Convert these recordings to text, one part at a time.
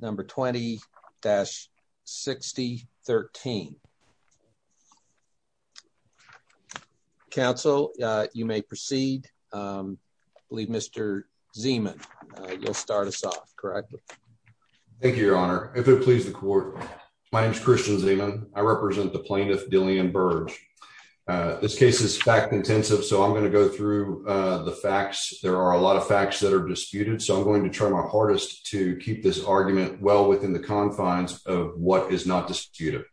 Number 20-6013 Council, you may proceed. I believe Mr. Zeeman, you'll start us off, correct? Thank you, Your Honor. If it pleases the court, my name is Christian Zeeman. I represent the plaintiff, Dillian Burge. This case is fact-intensive, so I'm going to go through the facts. There are a lot of facts that are disputed, so I'm going to try my hardest to keep this argument well within the confines of what is not disputed.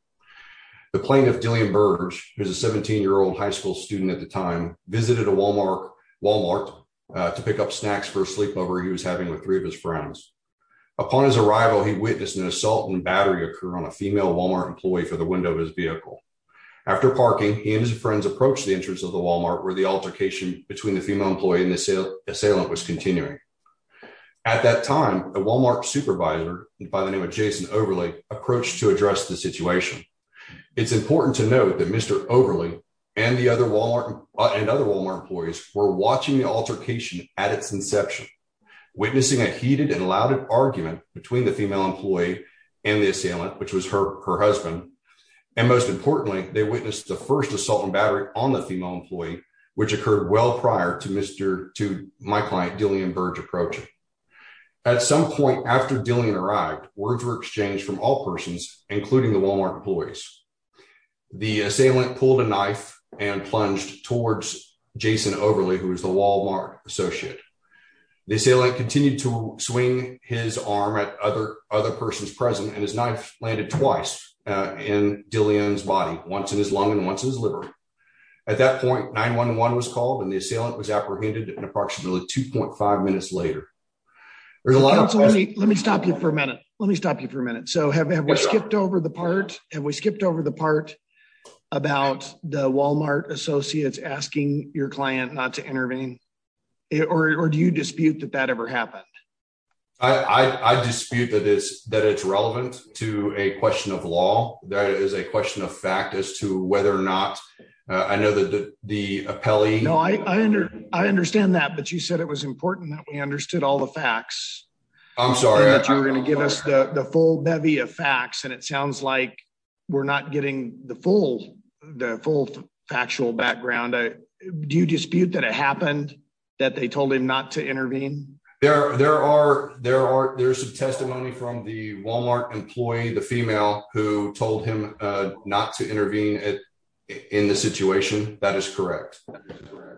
The plaintiff, Dillian Burge, who was a 17-year-old high school student at the time, visited a Wal-Mart to pick up snacks for a sleepover he was having with three of his friends. Upon his arrival, he witnessed an assault and battery occur on a female Wal-Mart employee for the window of his vehicle. After parking, he and his friends approached the entrance of the Wal-Mart where the altercation between the female employee and the assailant was continuing. At that time, a Wal-Mart supervisor by the name of Jason Overley approached to address the situation. It's important to note that Mr. Overley and other Wal-Mart employees were watching the altercation at its inception, witnessing a heated and loud argument between the female employee and the assailant, which was her husband. And most importantly, they witnessed the first assault and battery on the female employee, which occurred well prior to my client, Dillian Burge, approaching. At some point after Dillian arrived, words were exchanged from all persons, including the Wal-Mart employees. The assailant pulled a knife and plunged towards Jason Overley, who was the Wal-Mart associate. The assailant continued to swing his arm at other persons present, and his knife landed twice in Dillian's body, once in his lung and once in his liver. At that point, 911 was called and the assailant was apprehended approximately 2.5 minutes later. Let me stop you for a minute. Let me stop you for a minute. So have we skipped over the part about the Wal-Mart associates asking your client not to intervene? Or do you dispute that that ever happened? I dispute that it's relevant to a question of law. That is a question of fact as to whether or not I know that the appellee… No, I understand that, but you said it was important that we understood all the facts. I'm sorry. That you were going to give us the full bevy of facts, and it sounds like we're not getting the full factual background. Do you dispute that it happened, that they told him not to intervene? There's some testimony from the Wal-Mart employee, the female, who told him not to intervene in the situation. That is correct.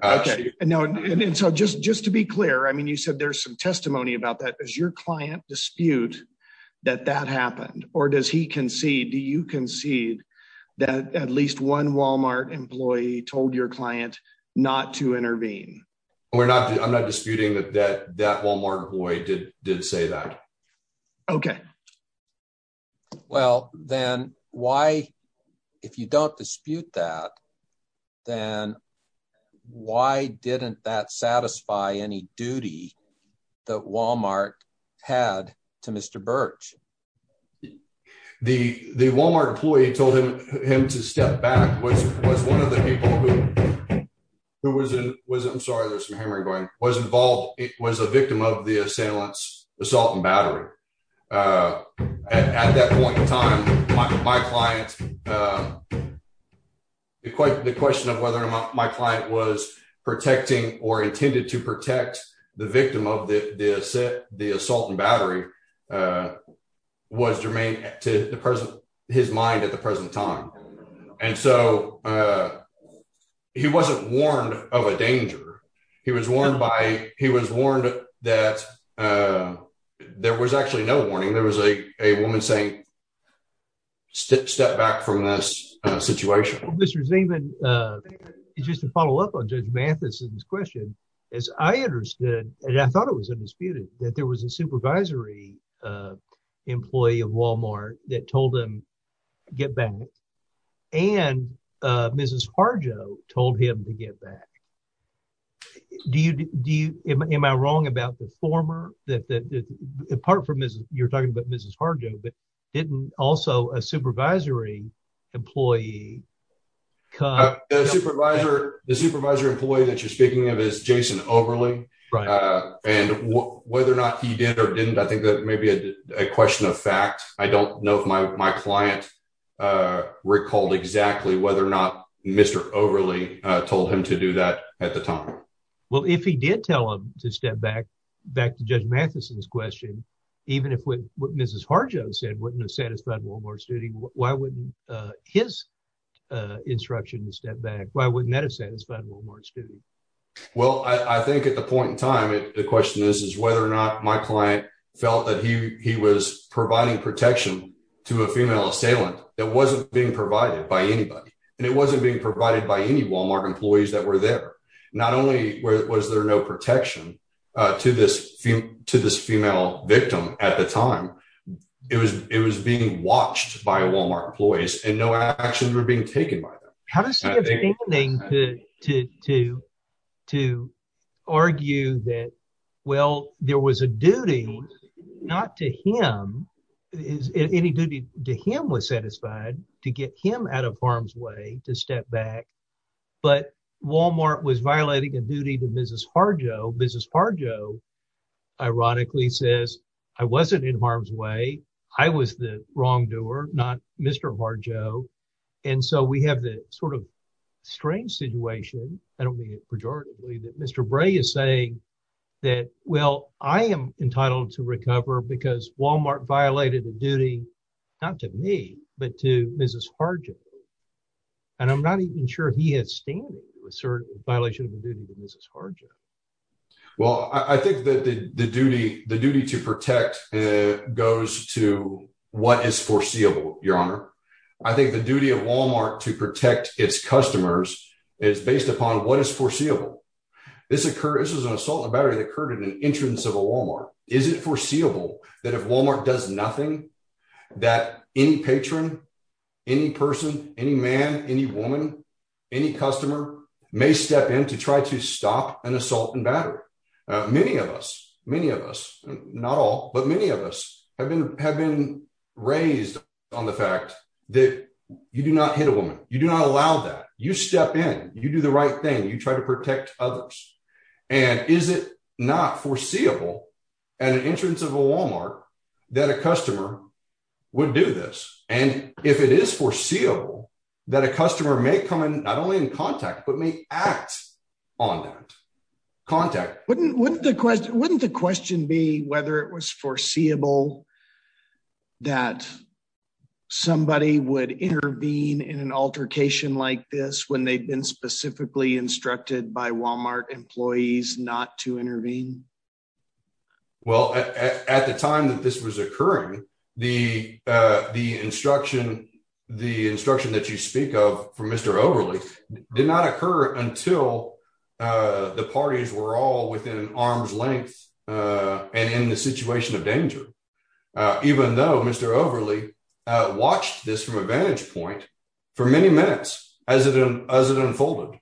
Okay. And so just to be clear, I mean, you said there's some testimony about that. Does your client dispute that that happened? Or does he concede, do you concede that at least one Wal-Mart employee told your client not to intervene? I'm not disputing that that Wal-Mart employee did say that. Okay. Well, then why, if you don't dispute that, then why didn't that satisfy any duty that Wal-Mart had to Mr. Birch? The Wal-Mart employee told him to step back, was one of the people who was involved, was a victim of the assailant's assault and battery. At that point in time, my client, the question of whether my client was protecting or intended to protect the victim of the assault and battery was germane to his mind at the present time. And so he wasn't warned of a danger. He was warned by he was warned that there was actually no warning. There was a woman saying, step back from this situation. Mr. Zeeman, just to follow up on Judge Mathison's question, as I understood, and I thought it was undisputed, that there was a supervisory employee of Wal-Mart that told him, get back. And Mrs. Harjo told him to get back. Do you, do you, am I wrong about the former that, that apart from this, you're talking about Mrs. Harjo, but didn't also a supervisory employee. The supervisor, the supervisor employee that you're speaking of is Jason Overly. And whether or not he did or didn't, I think that may be a question of fact. I don't know if my, my client recalled exactly whether or not Mr. Overly told him to do that at the time. Well, if he did tell him to step back, back to Judge Mathison's question, even if Mrs. Harjo said wouldn't have satisfied Wal-Mart's duty, why wouldn't his instruction to step back? Why wouldn't that have satisfied Wal-Mart's duty? Well, I think at the point in time, the question is, is whether or not my client felt that he was providing protection to a female assailant that wasn't being provided by anybody. And it wasn't being provided by any Wal-Mart employees that were there. Not only was there no protection to this, to this female victim at the time, it was, it was being watched by Wal-Mart employees and no actions were being taken by them. How does he have standing to, to, to argue that, well, there was a duty not to him, any duty to him was satisfied to get him out of harm's way to step back. But Wal-Mart was violating a duty to Mrs. Harjo. Mrs. Harjo ironically says, I wasn't in harm's way. I was the wrongdoer, not Mr. Harjo. And so we have the sort of strange situation. I don't mean it pejoratively that Mr. Bray is saying that, well, I am entitled to recover because Wal-Mart violated a duty, not to me, but to Mrs. Harjo. And I'm not even sure he has standing with certain violation of the duty to Mrs. Harjo. Well, I think that the duty, the duty to protect goes to what is foreseeable, Your Honor. I think the duty of Wal-Mart to protect its customers is based upon what is foreseeable. This is an assault on a battery that occurred at an entrance of a Wal-Mart. Is it foreseeable that if Wal-Mart does nothing, that any patron, any person, any man, any woman, any customer may step in to try to stop an assault and battery? Many of us, many of us, not all, but many of us have been raised on the fact that you do not hit a woman. You do not allow that. You step in, you do the right thing, you try to protect others. And is it not foreseeable at an entrance of a Wal-Mart that a customer would do this? And if it is foreseeable that a customer may come in, not only in contact, but may act on that contact? Wouldn't the question be whether it was foreseeable that somebody would intervene in an altercation like this when they've been specifically instructed by Wal-Mart employees not to intervene? Well, at the time that this was occurring, the instruction that you speak of from Mr. Overley did not occur until the parties were all within arm's length and in the situation of danger. Even though Mr. Overley watched this from a vantage point for many minutes as it unfolded,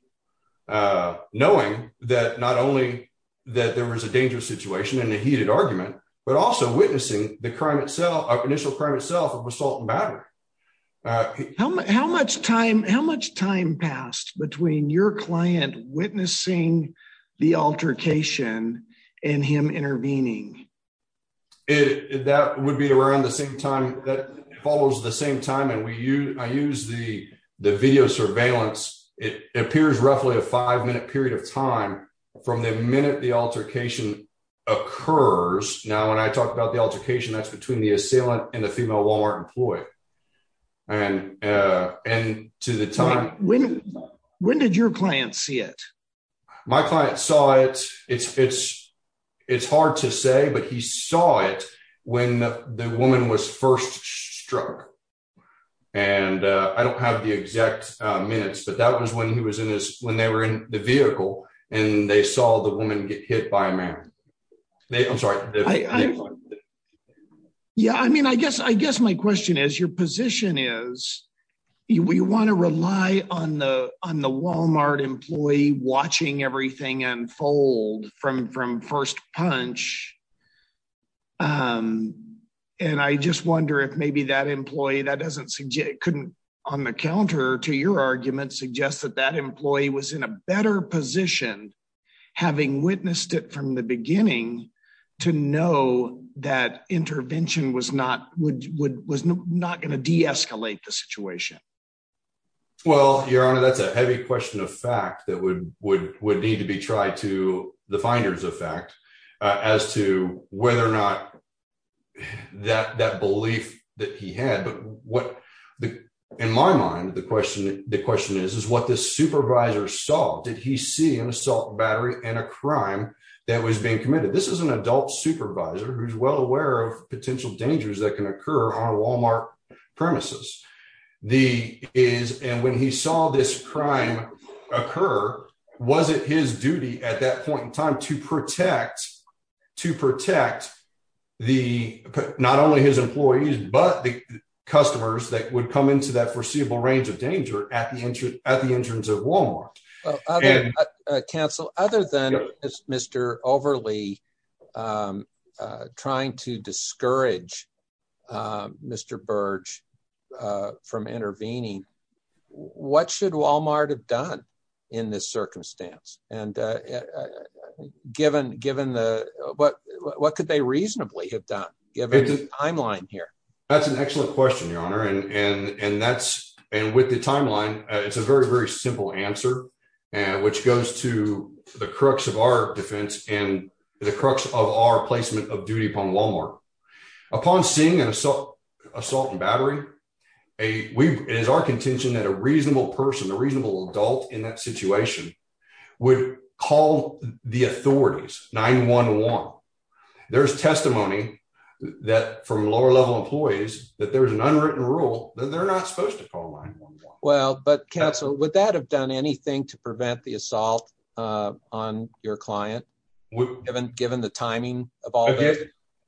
knowing that not only that there was a dangerous situation and a heated argument, but also witnessing the initial crime itself of assault and battery. How much time passed between your client witnessing the altercation and him intervening? That would be around the same time that follows the same time. And I use the video surveillance. It appears roughly a five-minute period of time from the minute the altercation occurs. Now, when I talk about the altercation, that's between the assailant and the female Wal-Mart employee. When did your client see it? My client saw it. It's hard to say, but he saw it when the woman was first struck. And I don't have the exact minutes, but that was when they were in the vehicle and they saw the woman get hit by a man. I'm sorry. Yeah, I mean, I guess my question is, your position is we want to rely on the Wal-Mart employee watching everything unfold from first punch. And I just wonder if maybe that employee couldn't, on the counter to your argument, suggest that that employee was in a better position, having witnessed it from the beginning, to know that intervention was not going to de-escalate the situation. Well, Your Honor, that's a heavy question of fact that would need to be tried to the finders of fact as to whether or not that belief that he had. But what, in my mind, the question is, is what the supervisor saw. Did he see an assault battery and a crime that was being committed? This is an adult supervisor who's well aware of potential dangers that can occur on Wal-Mart premises. And when he saw this crime occur, was it his duty at that point in time to protect not only his employees, but the customers that would come into that foreseeable range of danger at the entrance of Wal-Mart? Counsel, other than Mr. Overly trying to discourage Mr. Burge from intervening, what should Wal-Mart have done in this circumstance? And what could they reasonably have done, given the timeline here? That's an excellent question, Your Honor. And with the timeline, it's a very, very simple answer, which goes to the crux of our defense and the crux of our placement of duty upon Wal-Mart. Upon seeing an assault battery, it is our contention that a reasonable person, a reasonable adult in that situation, would call the authorities 9-1-1. There's testimony from lower-level employees that there's an unwritten rule that they're not supposed to call 9-1-1. Well, but Counsel, would that have done anything to prevent the assault on your client, given the timing of all this?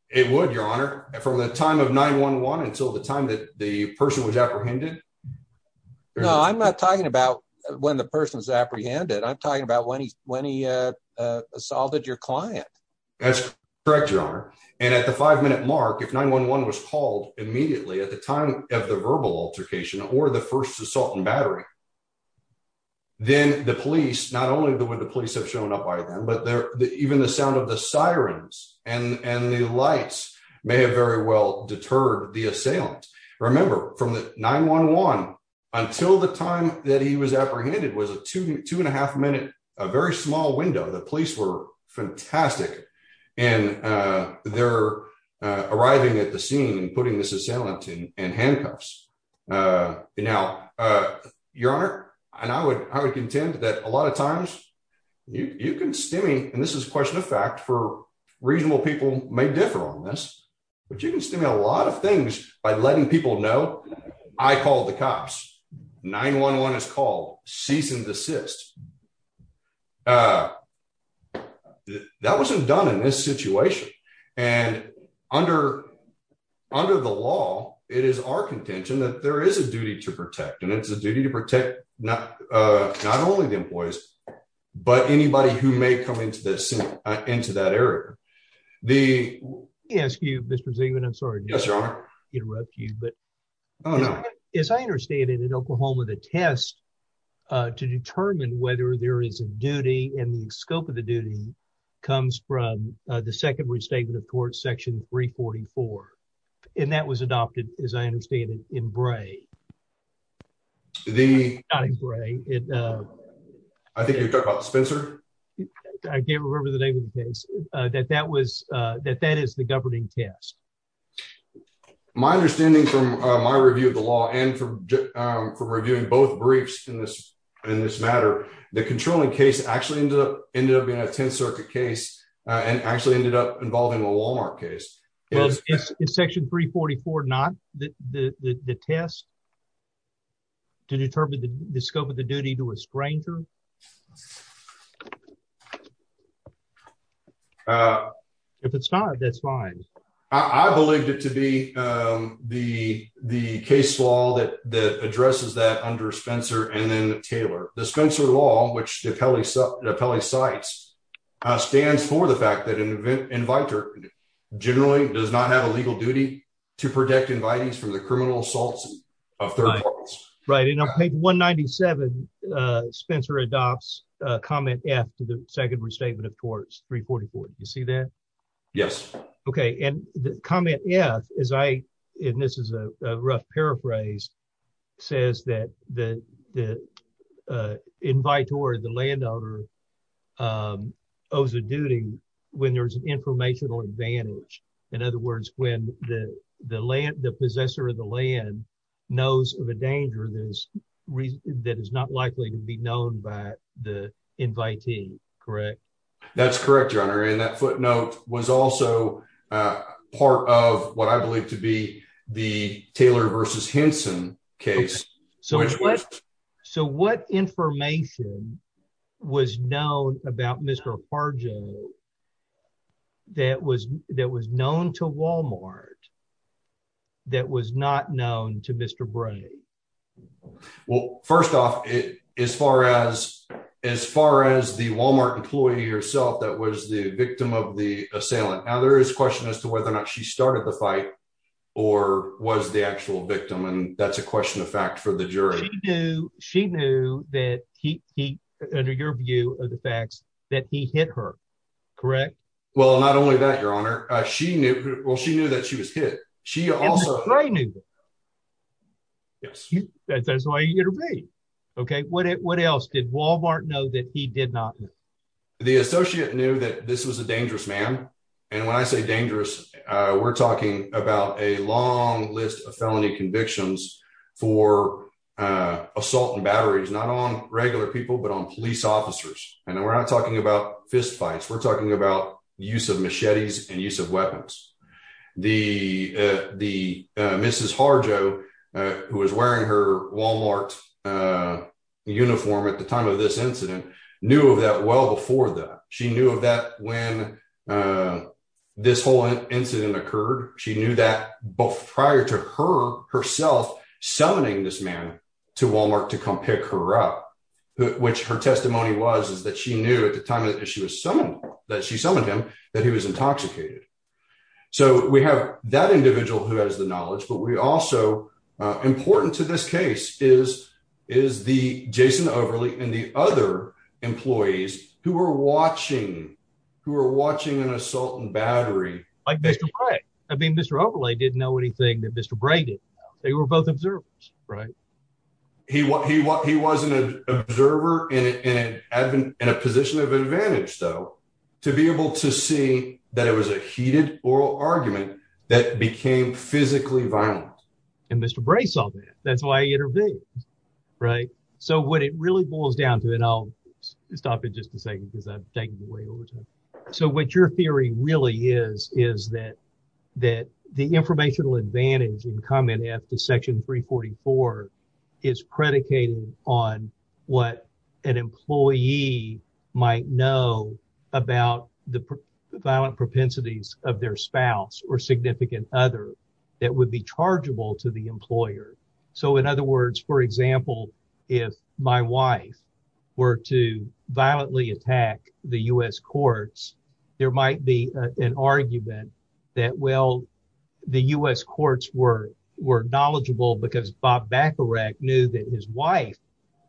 It would, Your Honor, from the time of 9-1-1 until the time that the person was apprehended. No, I'm not talking about when the person was apprehended. I'm talking about when he assaulted your client. That's correct, Your Honor. And at the five-minute mark, if 9-1-1 was called immediately at the time of the verbal altercation or the first assault and battery, then the police, not only would the police have shown up by then, but even the sound of the sirens and the lights may have very well deterred the assailant. Remember, from 9-1-1 until the time that he was apprehended was a two and a half minute, a very small window. The police were fantastic. And they're arriving at the scene and putting the assailant in handcuffs. Now, Your Honor, and I would contend that a lot of times you can stemming, and this is a question of fact for reasonable people may differ on this, but you can stem a lot of things by letting people know, I called the cops. 9-1-1 is called, cease and desist. That wasn't done in this situation. And under the law, it is our contention that there is a duty to protect, and it's a duty to protect not only the employees, but anybody who may come into that area. Let me ask you, Mr. Zeeman, I'm sorry to interrupt you, but as I understand it, in Oklahoma, the test to determine whether there is a duty and the scope of the duty comes from the Second Restatement of Courts, Section 344. And that was adopted, as I understand it, in Bray. I think you're talking about Spencer? I can't remember the name of the case. That that is the governing test. My understanding from my review of the law and from reviewing both briefs in this matter, the controlling case actually ended up being a Tenth Circuit case and actually ended up involving a Walmart case. Is Section 344 not the test to determine the scope of the duty to a stranger? If it's not, that's fine. I believed it to be the case law that addresses that under Spencer and then Taylor. The Spencer law, which the appellee cites, stands for the fact that an inviter generally does not have a legal duty to protect invitees from the criminal assaults of third parties. Right, and on page 197, Spencer adopts comment F to the Second Restatement of Courts, 344. Do you see that? Yes. Okay, and the comment F, and this is a rough paraphrase, says that the inviter, the landowner, owes a duty when there's an informational advantage. In other words, when the possessor of the land knows of a danger that is not likely to be known by the invitee. Correct? That's correct, Your Honor, and that footnote was also part of what I believe to be the Taylor v. Henson case. So what information was known about Mr. Fargo that was known to Walmart that was not known to Mr. Bray? Well, first off, as far as the Walmart employee herself that was the victim of the assailant, now there is question as to whether or not she started the fight or was the actual victim, and that's a question of fact for the jury. She knew that he, under your view of the facts, that he hit her. Correct? Well, not only that, Your Honor, she knew that she was hit. And Mr. Bray knew that. Yes. That's why he intervened. Okay, what else? Did Walmart know that he did not know? The associate knew that this was a dangerous man, and when I say dangerous, we're talking about a long list of felony convictions for assault and batteries, not on regular people, but on police officers. And we're not talking about fistfights, we're talking about use of machetes and use of weapons. The Mrs. Harjo, who was wearing her Walmart uniform at the time of this incident, knew of that well before that. She knew of that when this whole incident occurred. She knew that prior to her herself summoning this man to Walmart to come pick her up, which her testimony was is that she knew at the time that she was summoned, that she summoned him, that he was intoxicated. So we have that individual who has the knowledge, but also important to this case is the Jason Overley and the other employees who were watching an assault and battery. Like Mr. Bray. I mean, Mr. Overley didn't know anything that Mr. Bray didn't know. They were both observers. He wasn't an observer in a position of advantage, though, to be able to see that it was a heated oral argument that became physically violent. And Mr. Bray saw that. That's why he intervened. Right. So what it really boils down to, and I'll stop in just a second because I've taken away over time. So what your theory really is, is that that the informational advantage in common at the Section 344 is predicated on what an employee might know about the violent propensities of their spouse or significant other that would be chargeable to the employer. So, in other words, for example, if my wife were to violently attack the U.S. courts, there might be an argument that, well, the U.S. courts were were knowledgeable because Bob Bacharach knew that his wife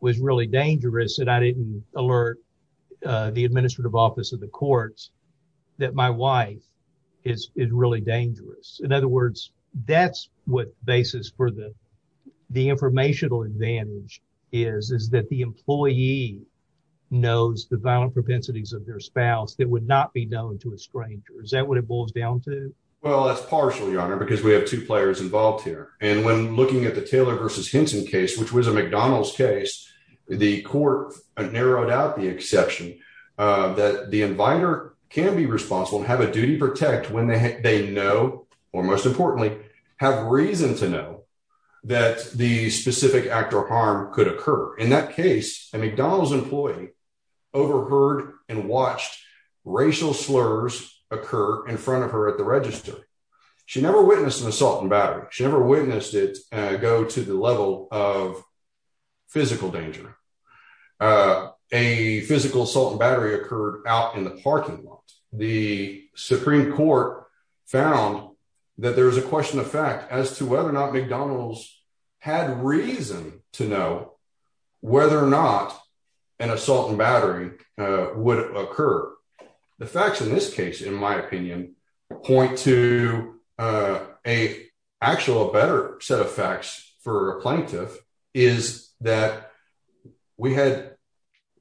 was really dangerous. And I didn't alert the administrative office of the courts that my wife is really dangerous. In other words, that's what basis for the the informational advantage is, is that the employee knows the violent propensities of their spouse that would not be known to a stranger. Is that what it boils down to? Well, that's partial, Your Honor, because we have two players involved here. And when looking at the Taylor versus Henson case, which was a McDonald's case, the court narrowed out the exception that the inviter can be responsible and have a duty to protect when they know or, most importantly, have reason to know that the specific act or harm could occur. In that case, a McDonald's employee overheard and watched racial slurs occur in front of her at the register. She never witnessed an assault and battery. She never witnessed it go to the level of physical danger. A physical assault and battery occurred out in the parking lot. The Supreme Court found that there is a question of fact as to whether or not McDonald's had reason to know whether or not an assault and battery would occur. The facts in this case, in my opinion, point to a actual better set of facts for a plaintiff is that we had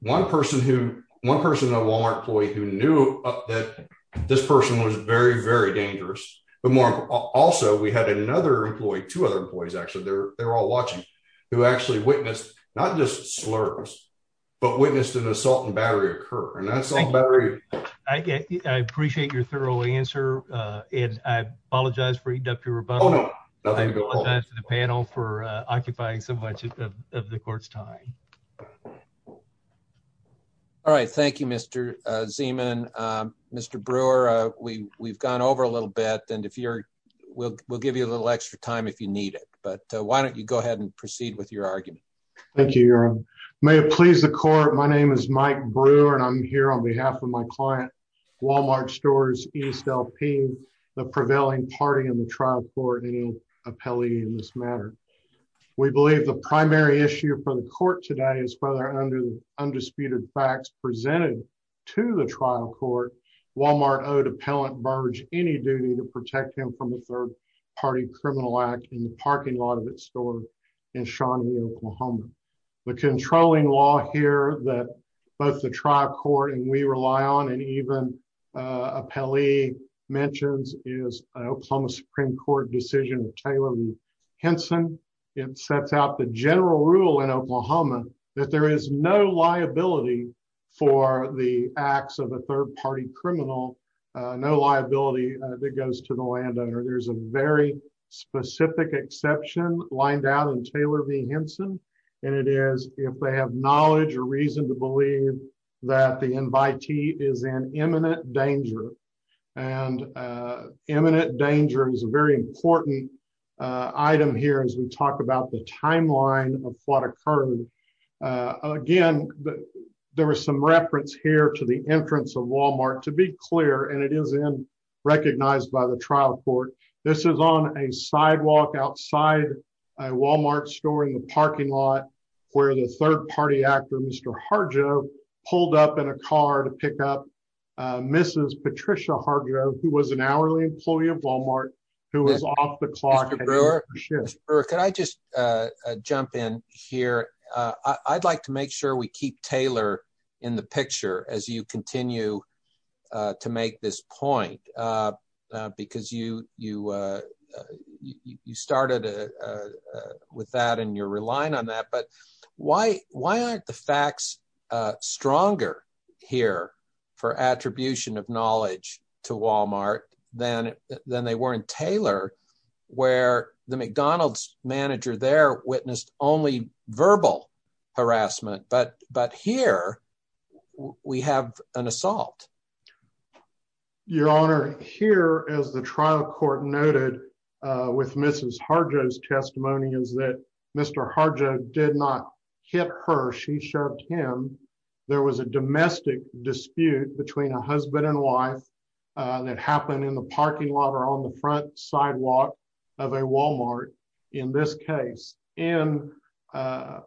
one person who one person at Walmart employee who knew that this person was very, very dangerous. Also, we had another employee, two other employees, actually, they're all watching who actually witnessed not just slurs, but witnessed an assault and battery occur. I appreciate your thorough answer. And I apologize for eating up your rebuttal to the panel for occupying so much of the court's time. All right. Thank you, Mr. Zeeman. Mr. Brewer, we we've gone over a little bit. And if you're we'll we'll give you a little extra time if you need it. But why don't you go ahead and proceed with your argument. Thank you. May it please the court. My name is Mike Brewer and I'm here on behalf of my client, Walmart stores is still paying the prevailing party in the trial for any appellee in this matter. We believe the primary issue for the court today is whether under the undisputed facts presented to the trial court, Walmart owed appellant Burge any duty to protect him from a third party criminal act in the parking lot of its store in Henson, it sets out the general rule in Oklahoma, that there is no liability for the acts of a third party criminal, no liability that goes to the landowner, there's a very specific exception lined out in Taylor v Henson, and it is if they have knowledge or reason to believe that the invitee is an imminent danger and imminent danger is a very important item here as we talk about the timeline of what occurred. Again, there was some reference here to the entrance of Walmart to be clear and it is in recognized by the trial court. This is on a sidewalk outside a Walmart store in the parking lot, where the third party actor Mr. Harjo pulled up in a car to pick up Mrs. Patricia Harjo, who was an hourly employee of Walmart, who was off the clock or can I just jump in here, I'd like to make sure we keep Taylor in the picture as you continue to make this point. Because you, you, you started with that and you're relying on that but why, why aren't the facts, stronger here for attribution of knowledge to Walmart, then, then they weren't Taylor, where the McDonald's manager there witnessed only verbal harassment but but here we have an assault. Your Honor, here is the trial court noted with Mrs. Harjo's testimony is that Mr. Harjo did not hit her she shoved him. There was a domestic dispute between a husband and wife that happened in the parking lot or on the front sidewalk of a Walmart. In this case, and the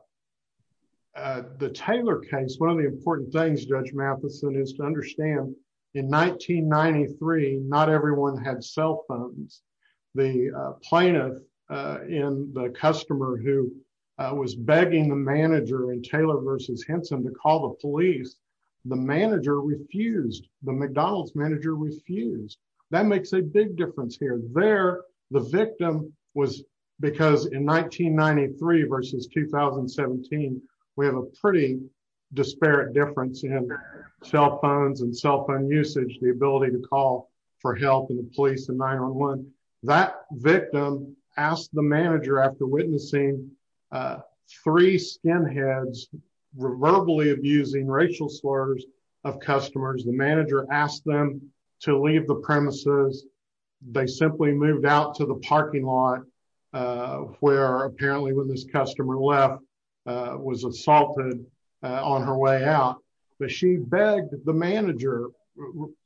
Taylor case one of the important things Judge Matheson is to understand. In 1993, not everyone had cell phones. The plaintiff in the customer who was begging the manager and Taylor versus Henson to call the police. The manager refused the McDonald's manager refused. That makes a big difference here there. The victim was because in 1993 versus 2017, we have a pretty disparate difference in cell phones and cell phone usage the ability to call for help and the police that victim asked the manager after witnessing three skinheads were verbally abusing racial slurs of customers the manager asked them to leave the premises. They simply moved out to the parking lot where apparently when this customer left was assaulted on her way out, but she begged the manager,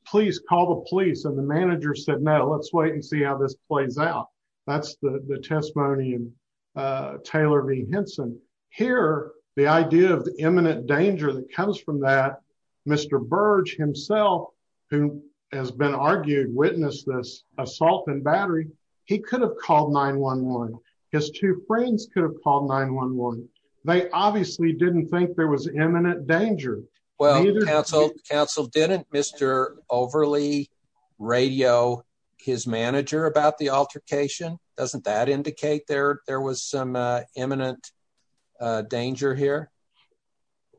please call the police and the manager said no let's wait and see how this plays out. That's the testimony and Taylor V Henson here, the idea of the imminent danger that comes from that Mr. Burge himself, who has been argued witness this assault and battery, he could have called 911 his two friends could have called 911. They obviously didn't think there was imminent danger. Well, counsel counsel didn't Mr. Overly radio, his manager about the altercation, doesn't that indicate there, there was some imminent danger here.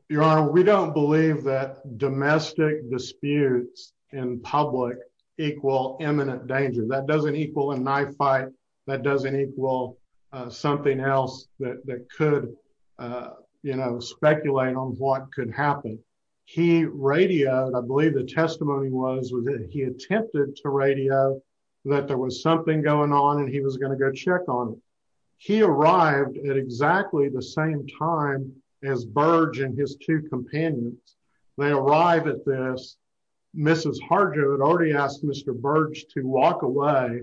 Your Honor, we don't believe that domestic disputes in public equal imminent danger that doesn't equal a knife fight that doesn't equal something else that could, you know, speculate on what could happen. He radioed I believe the testimony was that he attempted to radio that there was something going on and he was going to go check on. He arrived at exactly the same time as Burge and his two companions. They arrive at this. Mrs. Harger had already asked Mr. Burge to walk away.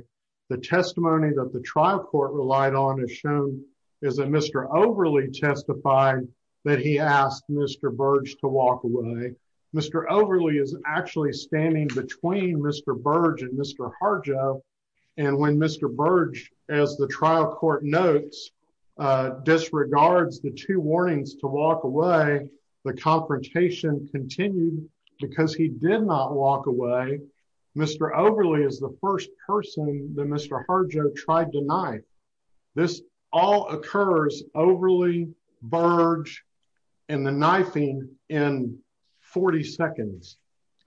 The testimony that the trial court relied on is shown is a Mr. Overly testified that he asked Mr. Burge to walk away. Mr. Overly is actually standing between Mr. Burge and Mr. Harger. And when Mr. Burge, as the trial court notes disregards the two warnings to walk away the confrontation continued because he did not walk away. Mr. Overly is the first person that Mr. Harger tried tonight. This all occurs overly Burge and the knifing in 40 seconds,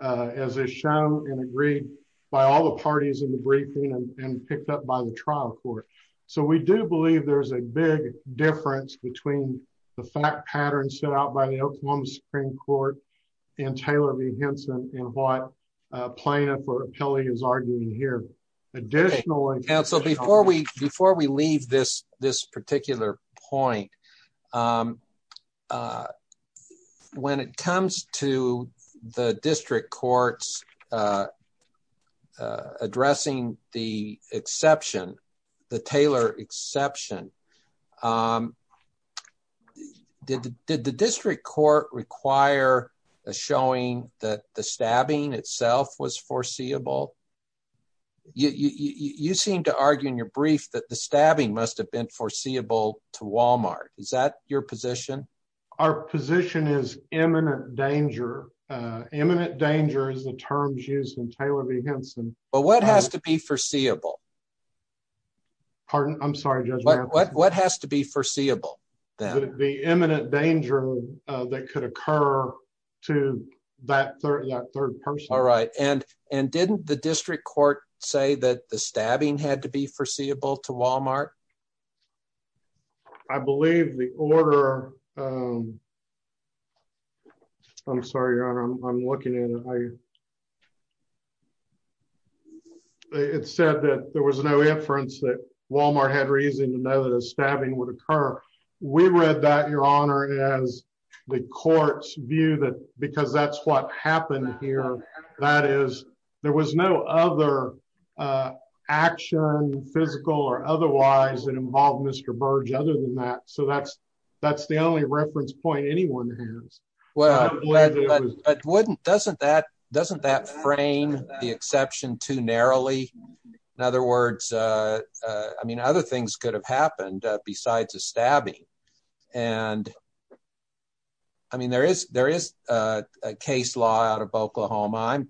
as a show and agreed by all the parties in the briefing and picked up by the trial court. So we do believe there's a big difference between the fact pattern set out by the Oklahoma Supreme Court and Taylor v. Henson in what plaintiff or appellee is arguing here. Additionally... Before we leave this particular point, when it comes to the district courts addressing the exception, the Taylor exception, did the district court require a showing that the stabbing itself was foreseeable? You seem to argue in your brief that the stabbing must have been foreseeable to Walmart. Is that your position? Our position is imminent danger. Imminent danger is the terms used in Taylor v. Henson. But what has to be foreseeable? Pardon? I'm sorry, Judge. What has to be foreseeable? The imminent danger that could occur to that third person. All right. And and didn't the district court say that the stabbing had to be foreseeable to Walmart? I believe the order. I'm sorry. I'm looking at it. It said that there was no inference that Walmart had reason to know that a stabbing would occur. We read that, Your Honor, as the court's view that because that's what happened here. That is, there was no other action, physical or otherwise, that involved Mr. Burge other than that. So that's that's the only reference point anyone has. Well, but wouldn't doesn't that doesn't that frame the exception too narrowly? In other words, I mean, other things could have happened besides a stabbing. And. I mean, there is there is a case law out of Oklahoma. I'm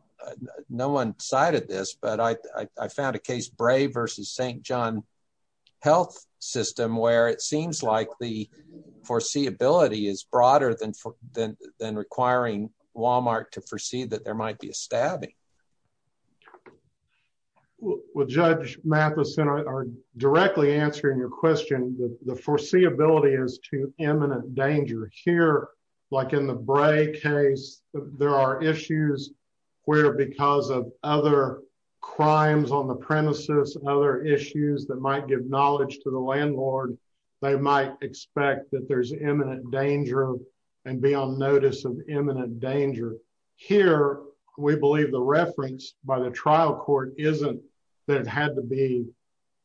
no one cited this, but I found a case brave versus St. John health system where it seems like the foreseeability is broader than than than requiring Walmart to foresee that there might be a stabbing. Well, Judge Mathison are directly answering your question. The foreseeability is to imminent danger here, like in the Bray case. There are issues where because of other crimes on the premises and other issues that might give knowledge to the landlord. They might expect that there's imminent danger and be on notice of imminent danger here. We believe the reference by the trial court isn't that had to be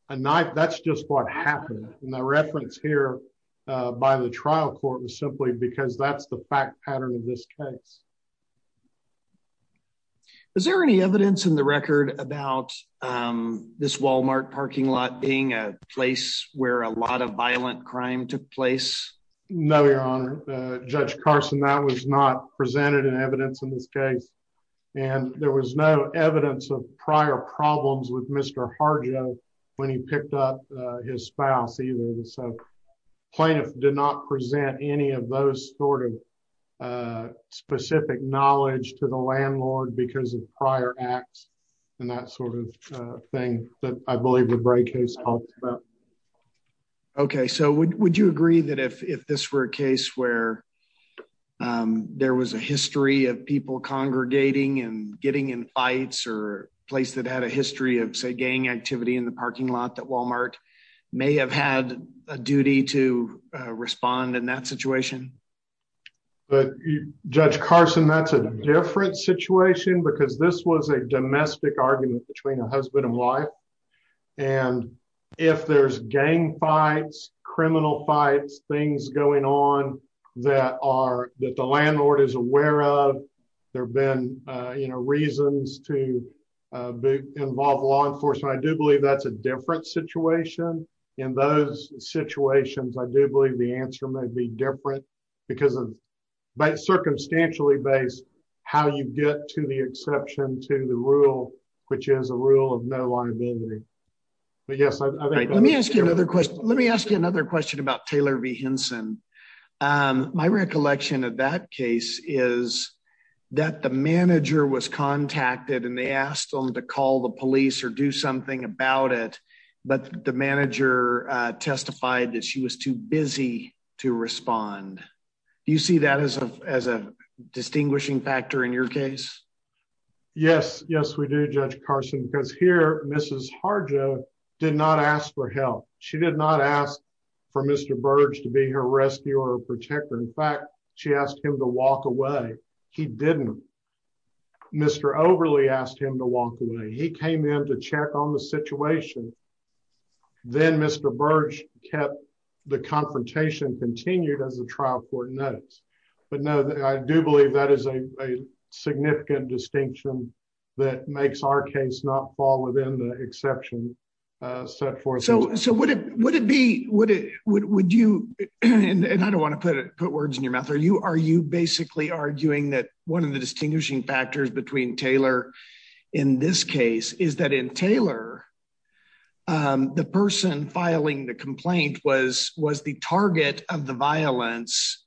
a knife. That's just what happened in the reference here by the trial court was simply because that's the fact pattern of this case. Is there any evidence in the record about this Walmart parking lot being a place where a lot of violent crime took place? No, Your Honor. Judge Carson, that was not presented in evidence in this case, and there was no evidence of prior problems with Mr. Harjo when he picked up his spouse either. So plaintiff did not present any of those sort of specific knowledge to the landlord because of prior acts and that sort of thing that I believe the Bray case helped. OK, so would you agree that if this were a case where there was a history of people congregating and getting in fights or place that had a history of, say, gang activity in the parking lot that Walmart may have had a duty to respond in that situation? But Judge Carson, that's a different situation because this was a domestic argument between a husband and wife. And if there's gang fights, criminal fights, things going on that are that the landlord is aware of, there have been reasons to involve law enforcement. So I do believe that's a different situation. In those situations, I do believe the answer may be different because of circumstantially based how you get to the exception to the rule, which is a rule of no liability. Let me ask you another question. Let me ask you another question about Taylor V. Henson. My recollection of that case is that the manager was contacted and they asked him to call the police or do something about it. But the manager testified that she was too busy to respond. Do you see that as a distinguishing factor in your case? Yes, yes, we do, Judge Carson, because here Mrs. Harjo did not ask for help. She did not ask for Mr. Burge to be her rescuer or protector. In fact, she asked him to walk away. He didn't. Mr. Overley asked him to walk away. He came in to check on the situation. Then Mr. Burge kept the confrontation continued as the trial court notes. But no, I do believe that is a significant distinction that makes our case not fall within the exception set forth. Would you, and I don't want to put words in your mouth, are you basically arguing that one of the distinguishing factors between Taylor in this case is that in Taylor, the person filing the complaint was the target of the violence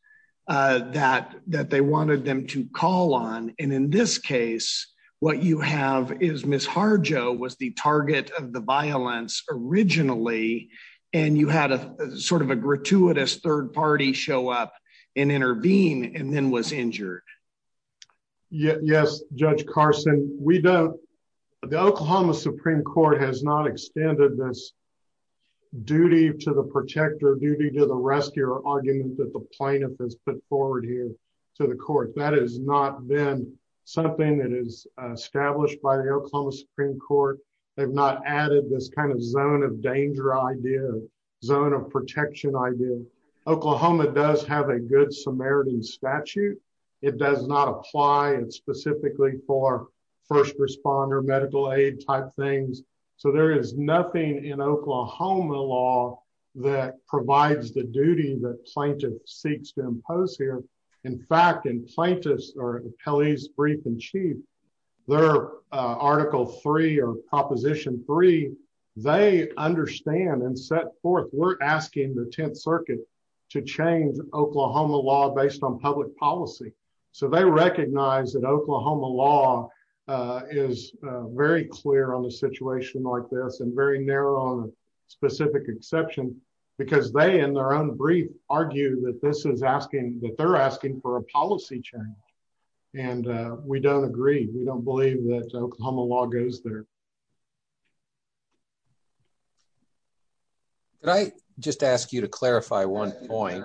that they wanted them to call on. And in this case, what you have is Mrs. Harjo was the target of the violence originally, and you had a sort of a gratuitous third party show up and intervene and then was injured. Yes, Judge Carson, we don't. The Oklahoma Supreme Court has not extended this duty to the protector, duty to the rescuer argument that the plaintiff has put forward here to the court. That has not been something that is established by the Oklahoma Supreme Court. They've not added this kind of zone of danger idea, zone of protection idea. Oklahoma does have a good Samaritan statute. It does not apply and specifically for first responder medical aid type things. So there is nothing in Oklahoma law that provides the duty that plaintiff seeks to impose here. In fact, in plaintiff's or Kelly's brief in chief, their article three or proposition three, they understand and set forth. We're asking the 10th Circuit to change Oklahoma law based on public policy. So they recognize that Oklahoma law is very clear on the situation like this and very narrow specific exception, because they in their own brief argue that this is asking that they're asking for a policy change. And we don't agree. We don't believe that Oklahoma law goes there. Can I just ask you to clarify one point.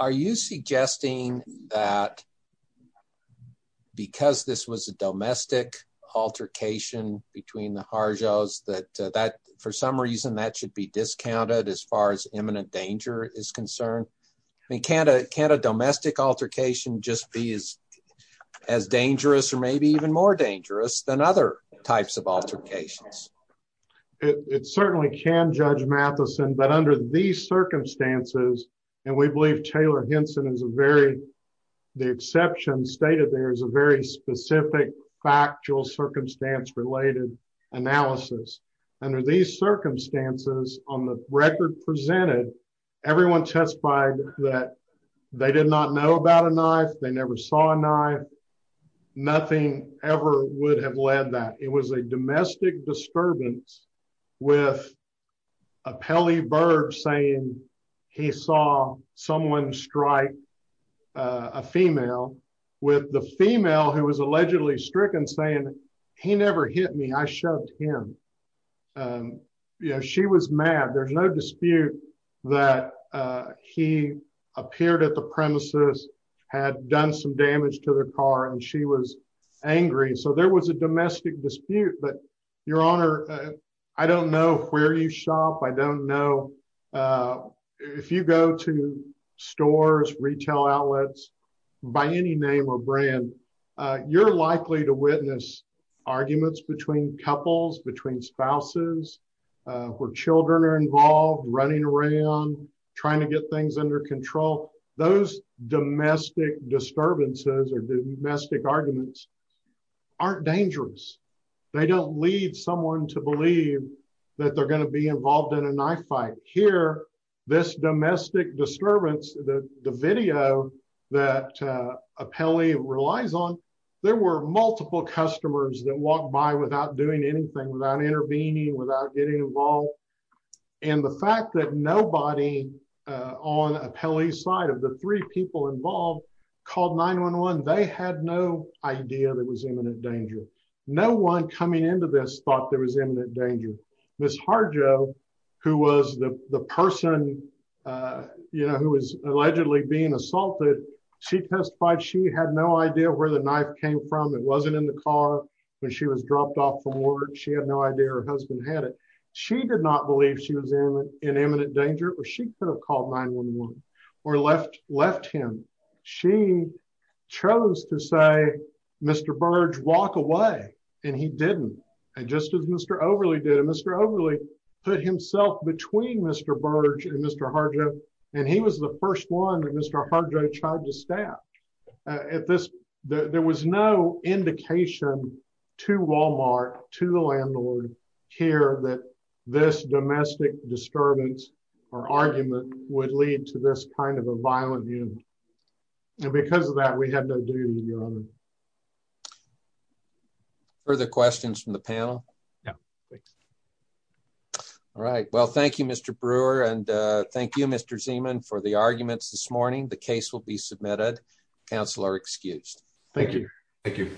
Are you suggesting that because this was a domestic altercation between the Harjo's that that for some reason that should be discounted as far as imminent danger is concerned. Can a domestic altercation just be as as dangerous or maybe even more dangerous than other types of altercations. It certainly can judge Mathison but under these circumstances, and we believe Taylor Henson is a very the exception stated there is a very specific factual circumstance related analysis. Under these circumstances, on the record presented. Everyone testified that they did not know about a knife, they never saw a knife. Nothing ever would have led that it was a domestic disturbance with a Pele bird saying he saw someone strike a female with the female who was allegedly stricken saying he never hit me I showed him. Yeah, she was mad there's no dispute that he appeared at the premises had done some damage to the car and she was angry so there was a domestic dispute but your honor. I don't know where you shop I don't know if you go to stores retail outlets, by any name or brand, you're likely to witness arguments between couples between spouses, where children are involved running around, trying to get things under control, those domestic disturbances or domestic arguments aren't dangerous. They don't lead someone to believe that they're going to be involved in a knife fight here, this domestic disturbance that the video that appellee relies on. There were multiple customers that walked by without doing anything without intervening without getting involved. And the fact that nobody on a Pele side of the three people involved called 911 they had no idea that was imminent danger. No one coming into this thought there was imminent danger. This hard Joe, who was the person you know who was allegedly being assaulted. She testified she had no idea where the knife came from it wasn't in the car when she was dropped off from work she had no idea her husband had it. She did not believe she was in an imminent danger, or she could have called 911 or left, left him. She chose to say, Mr. Burge walk away, and he didn't. And just as Mr. Overly did Mr overly put himself between Mr. Burge and Mr. Harder, and he was the first one that Mr. Harder charges staff at this, there was no indication to Walmart to the landlord care that this domestic disturbance or argument would lead to this kind of a violent human. And because of that we had to do. Further questions from the panel. Yeah. All right, well thank you Mr Brewer and thank you Mr Zeeman for the arguments this morning the case will be submitted counselor excused. Thank you. Thank you.